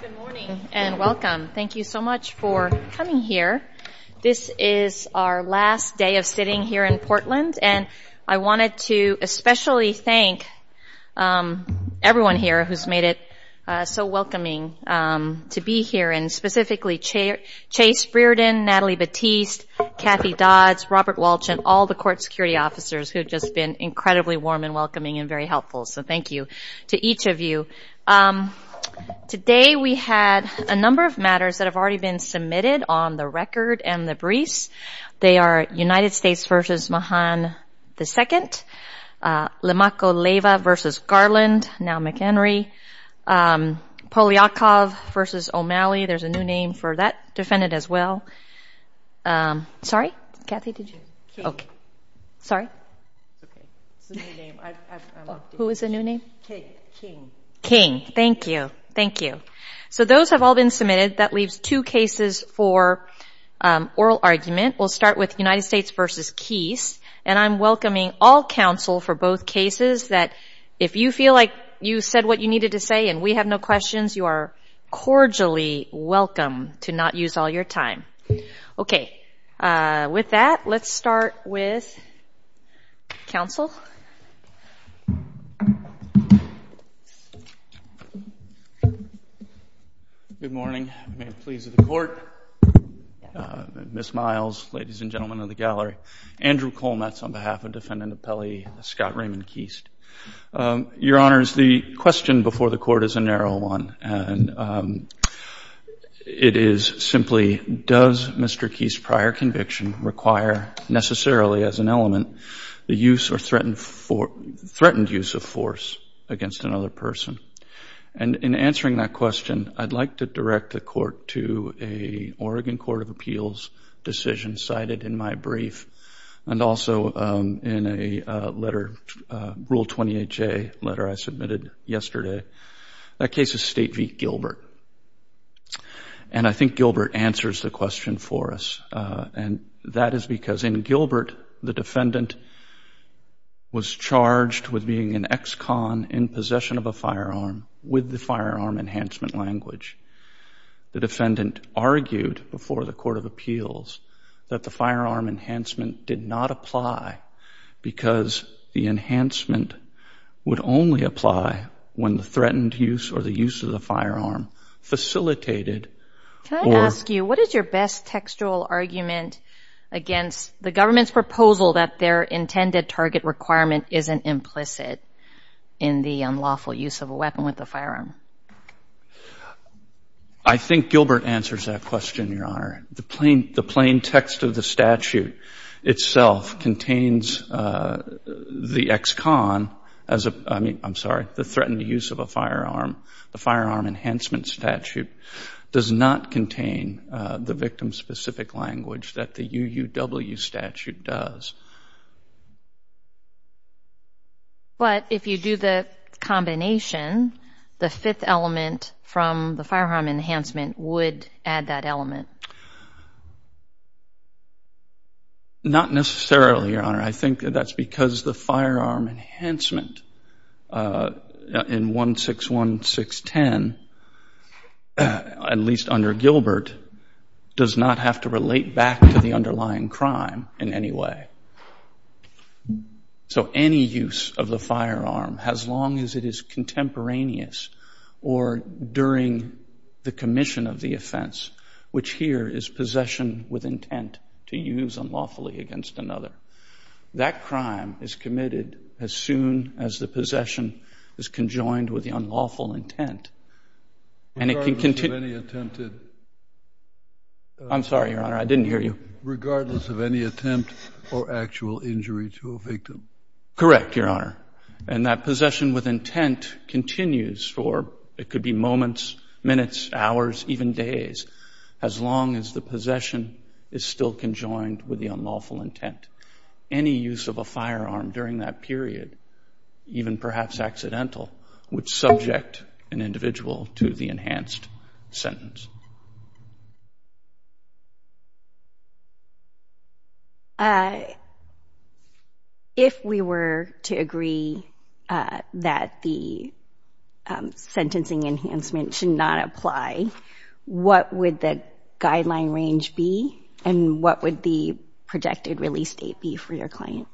Good morning and welcome. Thank you so much for coming here. This is our last day of sitting here in Portland, and I wanted to especially thank everyone here who's made it so welcoming to be here, and specifically Chase Brearden, Natalie Batiste, Kathy Dodds, Robert Walsh, and all the court security officers who have just been incredibly warm and welcoming and very helpful. So thank you to each of you. Today we had a number of matters that have already been submitted on the record and the briefs. They are United States v. Mahan II, Lemakko Leyva v. Garland, now McHenry, Polyakov v. O'Malley. There's a new name for that defendant as well. Sorry? Kathy, did you? Sorry? Who is the new name? King. Thank you. So those have all been submitted. That leaves two cases for oral argument. We'll start with United States v. Keast, and I'm welcoming all counsel for both cases that if you feel like you said what you needed to say and we have no questions, you are cordially welcome to not use all your time. Okay. With that, let's start with counsel. Good morning. May it please the Court. Ms. Miles, ladies and gentlemen of the gallery. Andrew Kolnetz on behalf of Defendant Pelley, Scott Raymond Keast. Your Honors, the question before the Court is a narrow one, and it is simply, does Mr. Keast's prior conviction require necessarily as an element the use or threatened use of force against another person? And in answering that question, I'd like to direct the Court to a Oregon Court of Appeals decision cited in my brief, and also in a letter, Rule 28J letter I submitted yesterday. That case is State v. Gilbert. And I think Gilbert answers the question for us, and that is because in Gilbert, the defendant was charged with being an ex-con in possession of a firearm with the firearm enhancement language. The defendant argued before the Court of Appeals that the firearm enhancement did not apply because the enhancement would only apply when the threatened use or the use of the firearm facilitated or... Can I ask you, what is your best textual argument against the government's proposal that their intended target requirement isn't implicit in the unlawful use of a weapon with a firearm? I think Gilbert answers that question, Your Honor. The plain text of the statute itself contains the ex-con as a... I mean, I'm sorry, the threatened use of a firearm. The firearm enhancement statute does not contain the victim-specific language that the UUW statute does. But if you do the combination, the fifth element from the firearm enhancement would add that element. Not necessarily, Your Honor. I think that's because the firearm enhancement in 161610, at least under Gilbert, does not have to relate back to the underlying crime in any way. So any use of the firearm, as long as it is contemporaneous or during the commission of the offense, which here is possession with intent to use unlawfully against another, that crime is committed as soon as the possession is conjoined with the unlawful intent. And it can continue... Regardless of any attempted... I'm sorry, Your Honor, I didn't hear you. Regardless of any attempt or actual injury to a victim. Correct, Your Honor. And that possession with intent continues for, it could be moments, minutes, hours, even days, as long as the possession is still conjoined with the unlawful intent. Any use of a firearm during that period, even perhaps accidental, would subject an individual to the enhanced sentence. If we were to agree that the sentencing enhancement should not apply, what would the guideline range be? And what would the projected release date be for your client?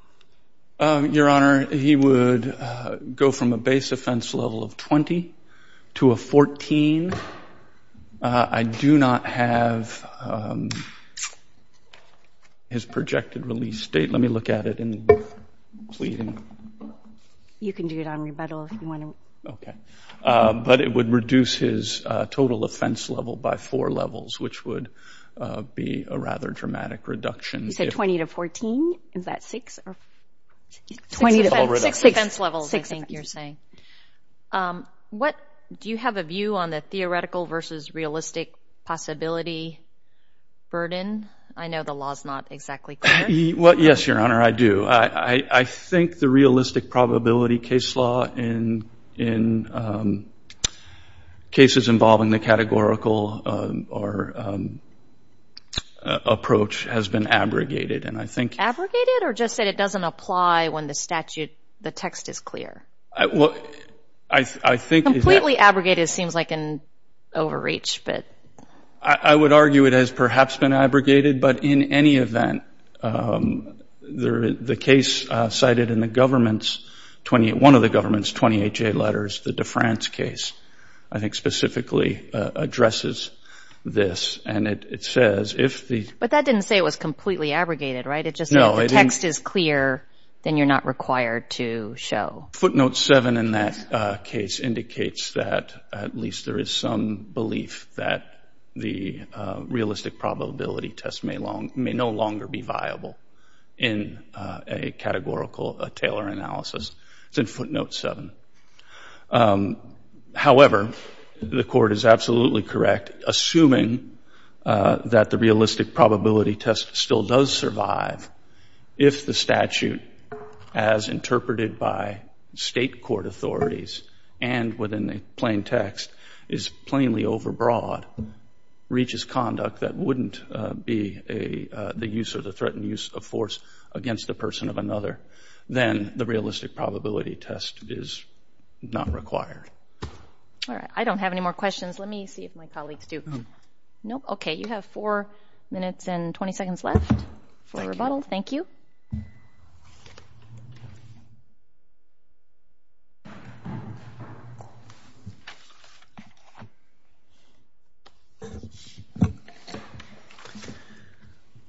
Your Honor, he would go from a base offense level of 20 to a 14. I do not have his projected release date. Let me look at it. You can do it on rebuttal if you want to. But it would reduce his total offense level by four levels, which would be a rather dramatic reduction. You said 20 to 14? Is that six? Six offense levels, I think you're saying. Do you have a view on the theoretical versus realistic possibility burden? I know the law is not exactly clear. Yes, Your Honor, I do. I think the realistic probability case law in cases involving the categorical approach has been abrogated. Abrogated or just that it doesn't apply when the statute, the text is clear? Completely abrogated seems like an overreach. I would argue it has perhaps been abrogated, but in any event, the case cited in one of the government's 28-J letters, the DeFrance case, I think specifically addresses this. But that didn't say it was completely abrogated, right? No, it didn't. Footnote 7 in that case indicates that at least there is some belief that the realistic probability test may no longer be viable in a categorical Taylor analysis. It's in footnote 7. However, the court is absolutely correct. Assuming that the realistic probability test still does survive, if the statute, as interpreted by state court authorities and within the plain text, is plainly overbroad, reaches conduct that wouldn't be the use or the threatened use of force against the person of another, then the realistic probability test is not required. All right. I don't have any more questions. Let me see if my colleagues do. Nope. Okay. You have 4 minutes and 20 seconds left for rebuttal. Thank you.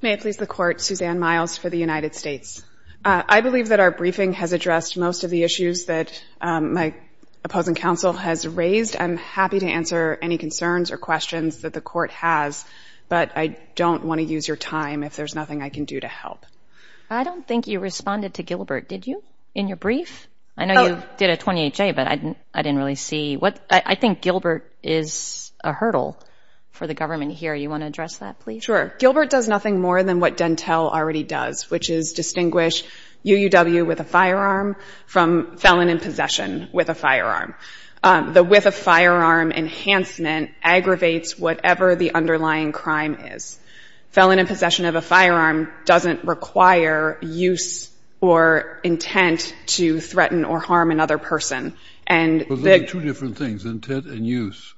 May it please the Court. Suzanne Miles for the United States. I believe that our briefing has addressed most of the issues that my opposing counsel has raised. I'm happy to answer any concerns or questions that the court has, but I don't want to use your time if there's nothing I can do to help. I don't think you responded to Gilbert, did you, in your brief? I know you did a 28-J, but I didn't really see. I think Gilbert is a hurdle for the government here. You want to address that, please? Sure. Gilbert does nothing more than what Dentel already does, which is distinguish UUW with a firearm from felon in possession with a firearm. The with a firearm enhancement aggravates whatever the underlying crime is. Felon in possession of a firearm doesn't require use or intent to threaten or harm another person. There are two different things, intent and use.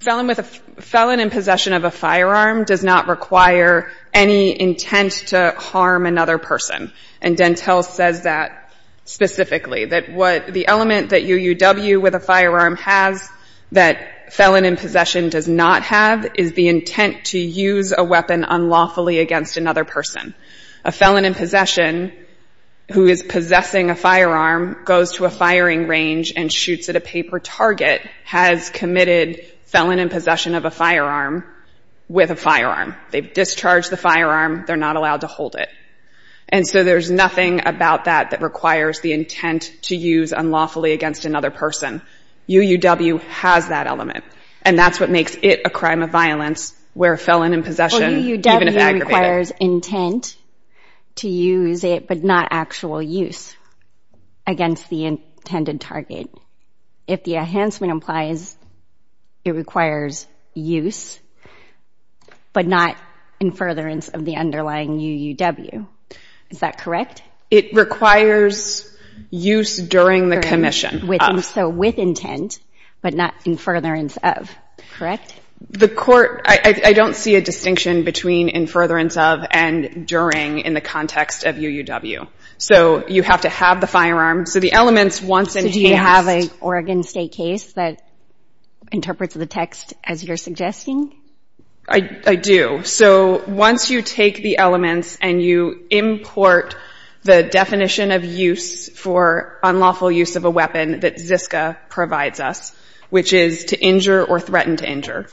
Felon in possession of a firearm does not require any intent to harm another person. And Dentel says that specifically, that the element that UUW with a firearm has that felon in possession does not have is the intent to use a weapon unlawfully against another person. A felon in possession who is possessing a firearm goes to a firing range and shoots at a paper target has committed felon in possession of a firearm with a firearm. They've discharged the firearm. They're not allowed to hold it. And so there's nothing about that that requires the intent to use unlawfully against another person. UUW has that element. And that's what makes it a crime of violence where felon in possession, even if aggravated. UUW requires intent to use it, but not actual use against the intended target. If the enhancement implies it requires use, but not in furtherance of the underlying UUW. Is that correct? It requires use during the commission. So with intent, but not in furtherance of, correct? I don't see a distinction between in furtherance of and during in the context of UUW. So you have to have the firearm. So the elements once enhanced. Do you have an Oregon State case that interprets the text as you're suggesting? I do. So once you take the elements and you import the definition of use for unlawful use of a weapon that Ziska provides us, which is to injure or threaten to injure.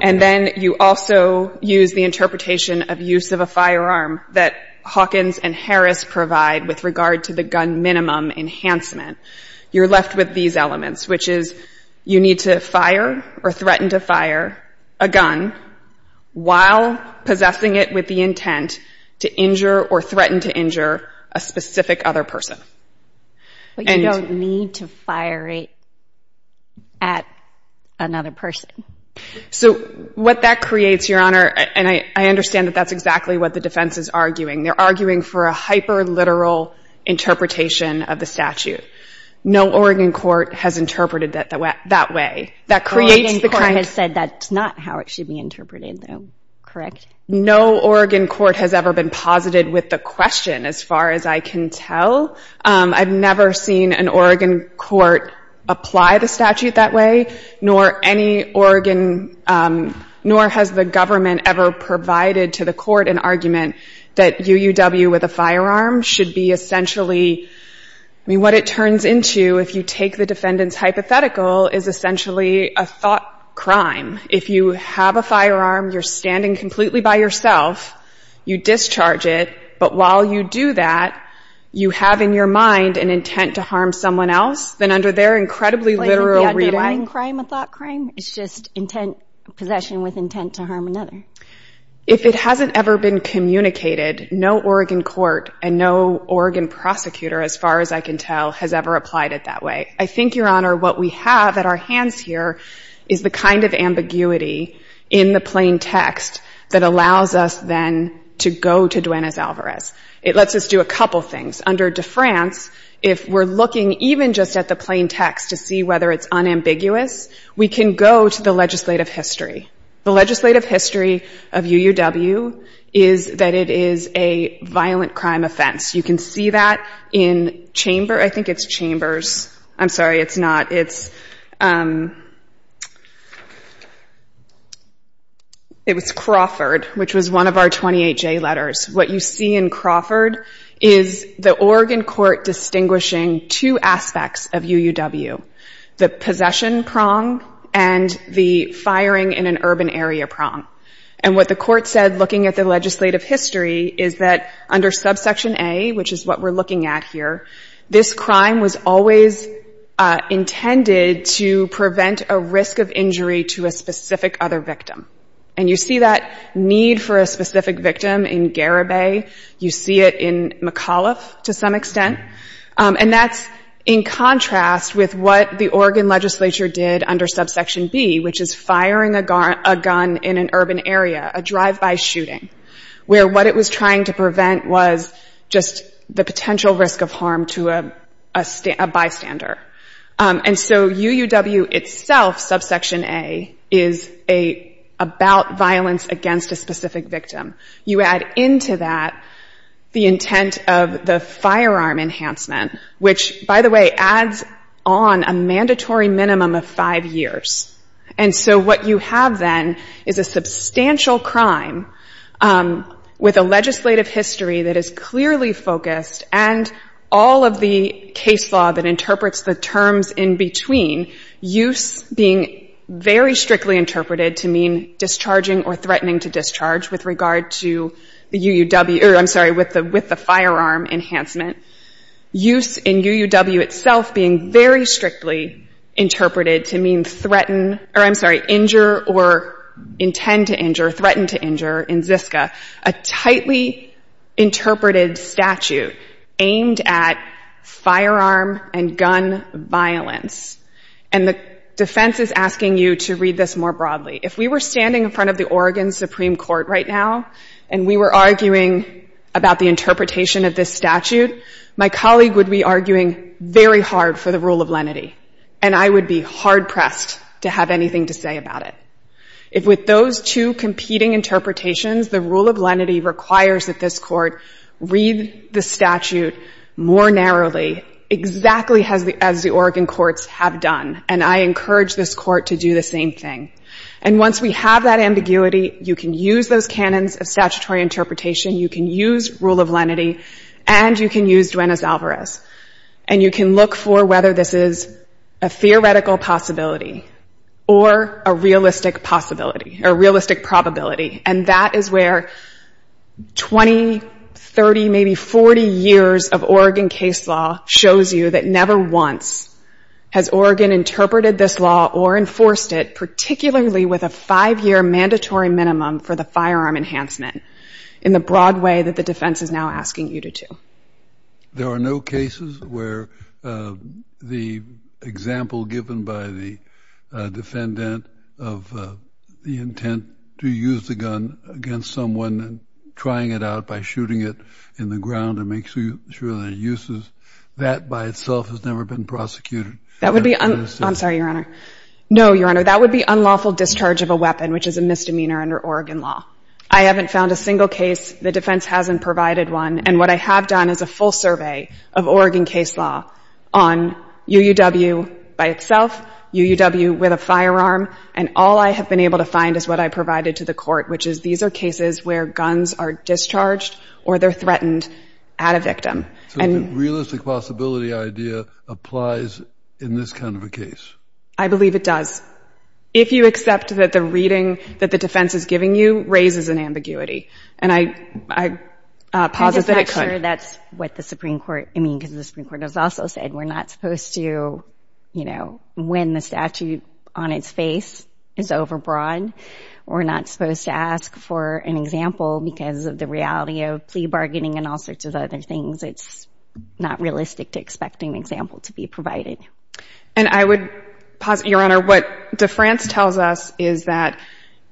And then you also use the interpretation of use of a firearm that Hawkins and Harris provide with regard to the gun minimum enhancement. You're left with these elements, which is you need to fire or threaten to fire a gun while possessing it with the intent to injure or threaten to injure a specific other person. But you don't need to fire it at another person. So what that creates, Your Honor, and I understand that that's exactly what the defense is arguing. They're arguing for a hyperliteral interpretation of the statute. No Oregon court has interpreted it that way. Oregon court has said that's not how it should be interpreted, though. Correct? No Oregon court has ever been posited with the question, as far as I can tell. I've never seen an Oregon court apply the statute that way, nor any Oregon, nor has the government ever provided to the court an argument that UUW with a defendant's hypothetical is essentially a thought crime. If you have a firearm, you're standing completely by yourself, you discharge it, but while you do that, you have in your mind an intent to harm someone else, then under their incredibly literal reading... Is the underlying crime a thought crime? It's just intent, possession with intent to harm another. If it hasn't ever been communicated, no Oregon court and no Oregon prosecutor, as far as I can tell, has ever applied it that way. I think, Your Honor, what we have at our hands here is the kind of ambiguity in the plain text that allows us, then, to go to Duenas-Alvarez. It lets us do a couple things. Under de France, if we're looking even just at the plain text to see whether it's unambiguous, we can go to the legislative history. The legislative history of UUW, the possession prong, and the firing in an urban area prong. legislative history, UUW is not a crime offense. You can see that in Chamber... I think it's Chambers. I'm sorry, it's not. It's... It was Crawford, which was one of our 28-J letters. What you see in Crawford is the Oregon court distinguishing two aspects of UUW. The possession prong and the firing in an urban area prong. And what the court said, looking at the legislative history, is that under subsection A, which is what we're looking at here, this crime was always intended to prevent a risk of injury to a specific other victim. And you see that need for a specific victim in Garibay. You see it in McAuliffe to some extent. And that's in contrast with what the Oregon legislature did under subsection B, which is firing a gun in an urban area, a drive-by shooting, where what it was trying to prevent was just the potential risk of harm to a bystander. And so UUW itself, subsection A, is about violence against a specific victim. You add into that the intent of the firearm enhancement, which, by the way, adds on a mandatory minimum of five years. And so what you have then is a substantial crime with a legislative history that is clearly focused and all of the case law that interprets the terms in between, use being very strictly interpreted to mean discharging or threatening to discharge with regard to the UUW or, I'm sorry, with the firearm enhancement. Use in UUW itself being very strictly interpreted to mean threaten or, I'm sorry, injure or intend to injure, threaten to injure in Ziska, a tightly interpreted statute aimed at firearm and gun violence. And the defense is asking you to read this more broadly. If we were standing in front of the Oregon Supreme Court right now and we were arguing about the interpretation of this statute, my colleague would be arguing very hard for the rule of lenity, and I would be hard-pressed to have anything to say about it. If with those two competing interpretations, the rule of lenity requires that this court read the statute more narrowly, exactly as the Oregon courts have done, and I encourage this court to do the same thing. And once we have that ambiguity, you can use those canons of statutory interpretation, you can use rule of lenity, and you can use Duenas-Alvarez, and you can look for whether this is a theoretical possibility or a realistic possibility or realistic probability. And that is where 20, 30, maybe 40 years of Oregon case law shows you that never once has Oregon interpreted this law or enforced it, particularly with a five-year mandatory minimum for the firearm enhancement in the broad way that the defense is now asking you to do. There are no cases where the example given by the defendant of the intent to use the gun against someone and trying it out by shooting it in the ground to make sure that it uses, that by itself has never been prosecuted. That would be, I'm sorry, Your Honor. No, Your Honor, that would be unlawful discharge of a weapon, which is a single case. The defense hasn't provided one. And what I have done is a full survey of Oregon case law on UUW by itself, UUW with a firearm, and all I have been able to find is what I provided to the court, which is these are cases where guns are discharged or they're threatened at a victim. So the realistic possibility idea applies in this kind of a case? I believe it does. If you accept that the reading that the defense is giving you and I posit that it could. I'm just not sure that's what the Supreme Court, I mean, because the Supreme Court has also said we're not supposed to, you know, when the statute on its face is overbroad, we're not supposed to ask for an example because of the reality of plea bargaining and all sorts of other things. It's not realistic to expect an example to be provided. And I would posit, Your Honor, what France tells us is that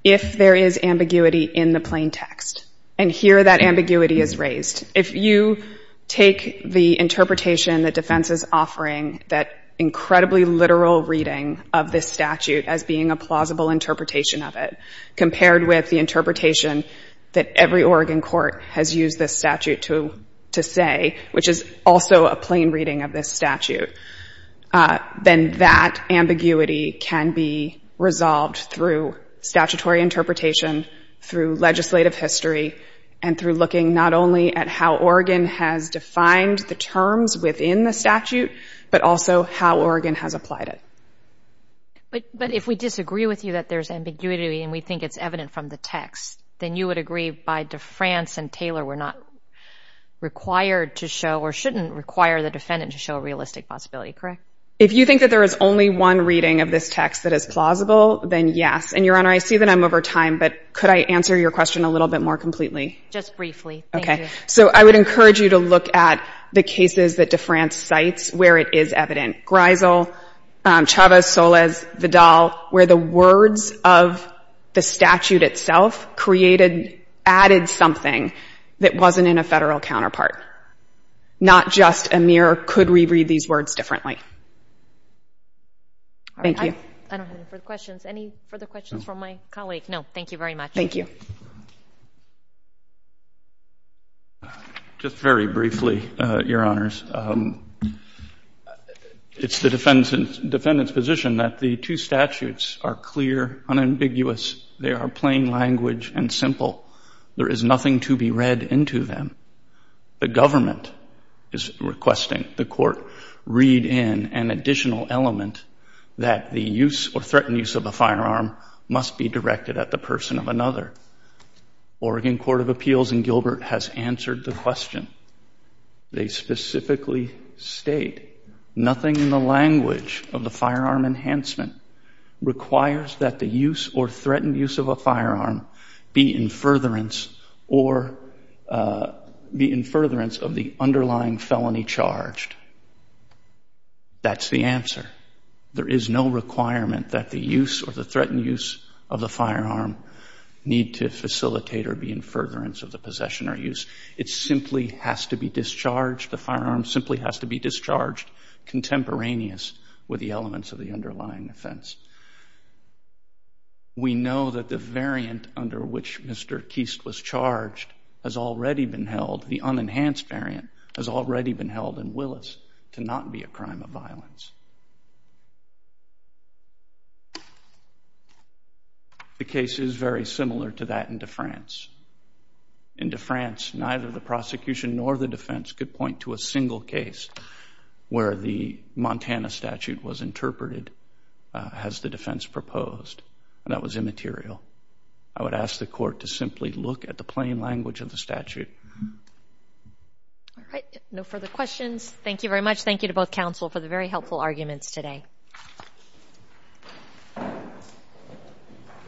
if there is ambiguity in the plain text and here that ambiguity is raised, if you take the interpretation that defense is offering, that incredibly literal reading of this statute as being a plausible interpretation of it, compared with the interpretation that every Oregon court has used this statute to say, which is also a plain reading of this statute, then that ambiguity can be resolved through statutory interpretation, through legislative history, and through looking not only at how Oregon has defined the terms within the statute, but also how Oregon has applied it. But if we disagree with you that there's ambiguity and we think it's evident from the text, then you would agree by saying that France and Taylor were not required to show or shouldn't require the defendant to show a realistic possibility, correct? If you think that there is only one reading of this text that is plausible, then yes. And, Your Honor, I see that I'm over time, but could I answer your question a little bit more completely? Just briefly. Thank you. Okay. So I would encourage you to look at the cases that DeFrance cites where it is evident. Greisel, Chavez, Soles, Vidal, where the words of the statute itself created, added something that wasn't in a Federal counterpart. Not just Amir could reread these words differently. Thank you. I don't have any further questions. Any further questions from my colleague? No. Thank you very much. Thank you. Just very briefly, Your Honors. It's the defendant's position that the two statutes are clear, unambiguous. They are plain language and simple. There is nothing to be read into them. The government is requesting the Court read in an additional element that the use or threatened use of a firearm must be directed at the person of another. Oregon Court of Appeals in Gilbert has answered the question. They specifically state nothing in the language of the firearm enhancement requires that the use or threatened use of a firearm be in furtherance or be in furtherance of the underlying felony charged. That's the answer. There is no requirement that the use or the threatened use of the firearm need to facilitate or be in furtherance of the possession or use. It simply has to be discharged. The firearm simply has to be discharged contemporaneous with the elements of the underlying offense. We know that the variant under which Mr. Keist was charged has already been held. The unenhanced variant has already been held and will not be a crime of violence. The case is very similar to that in DeFrance. In DeFrance, neither the prosecution nor the defense could point to a single case where the Montana statute was interpreted as the defense proposed. That was immaterial. I would ask the Court to simply look at the plain language of the statute.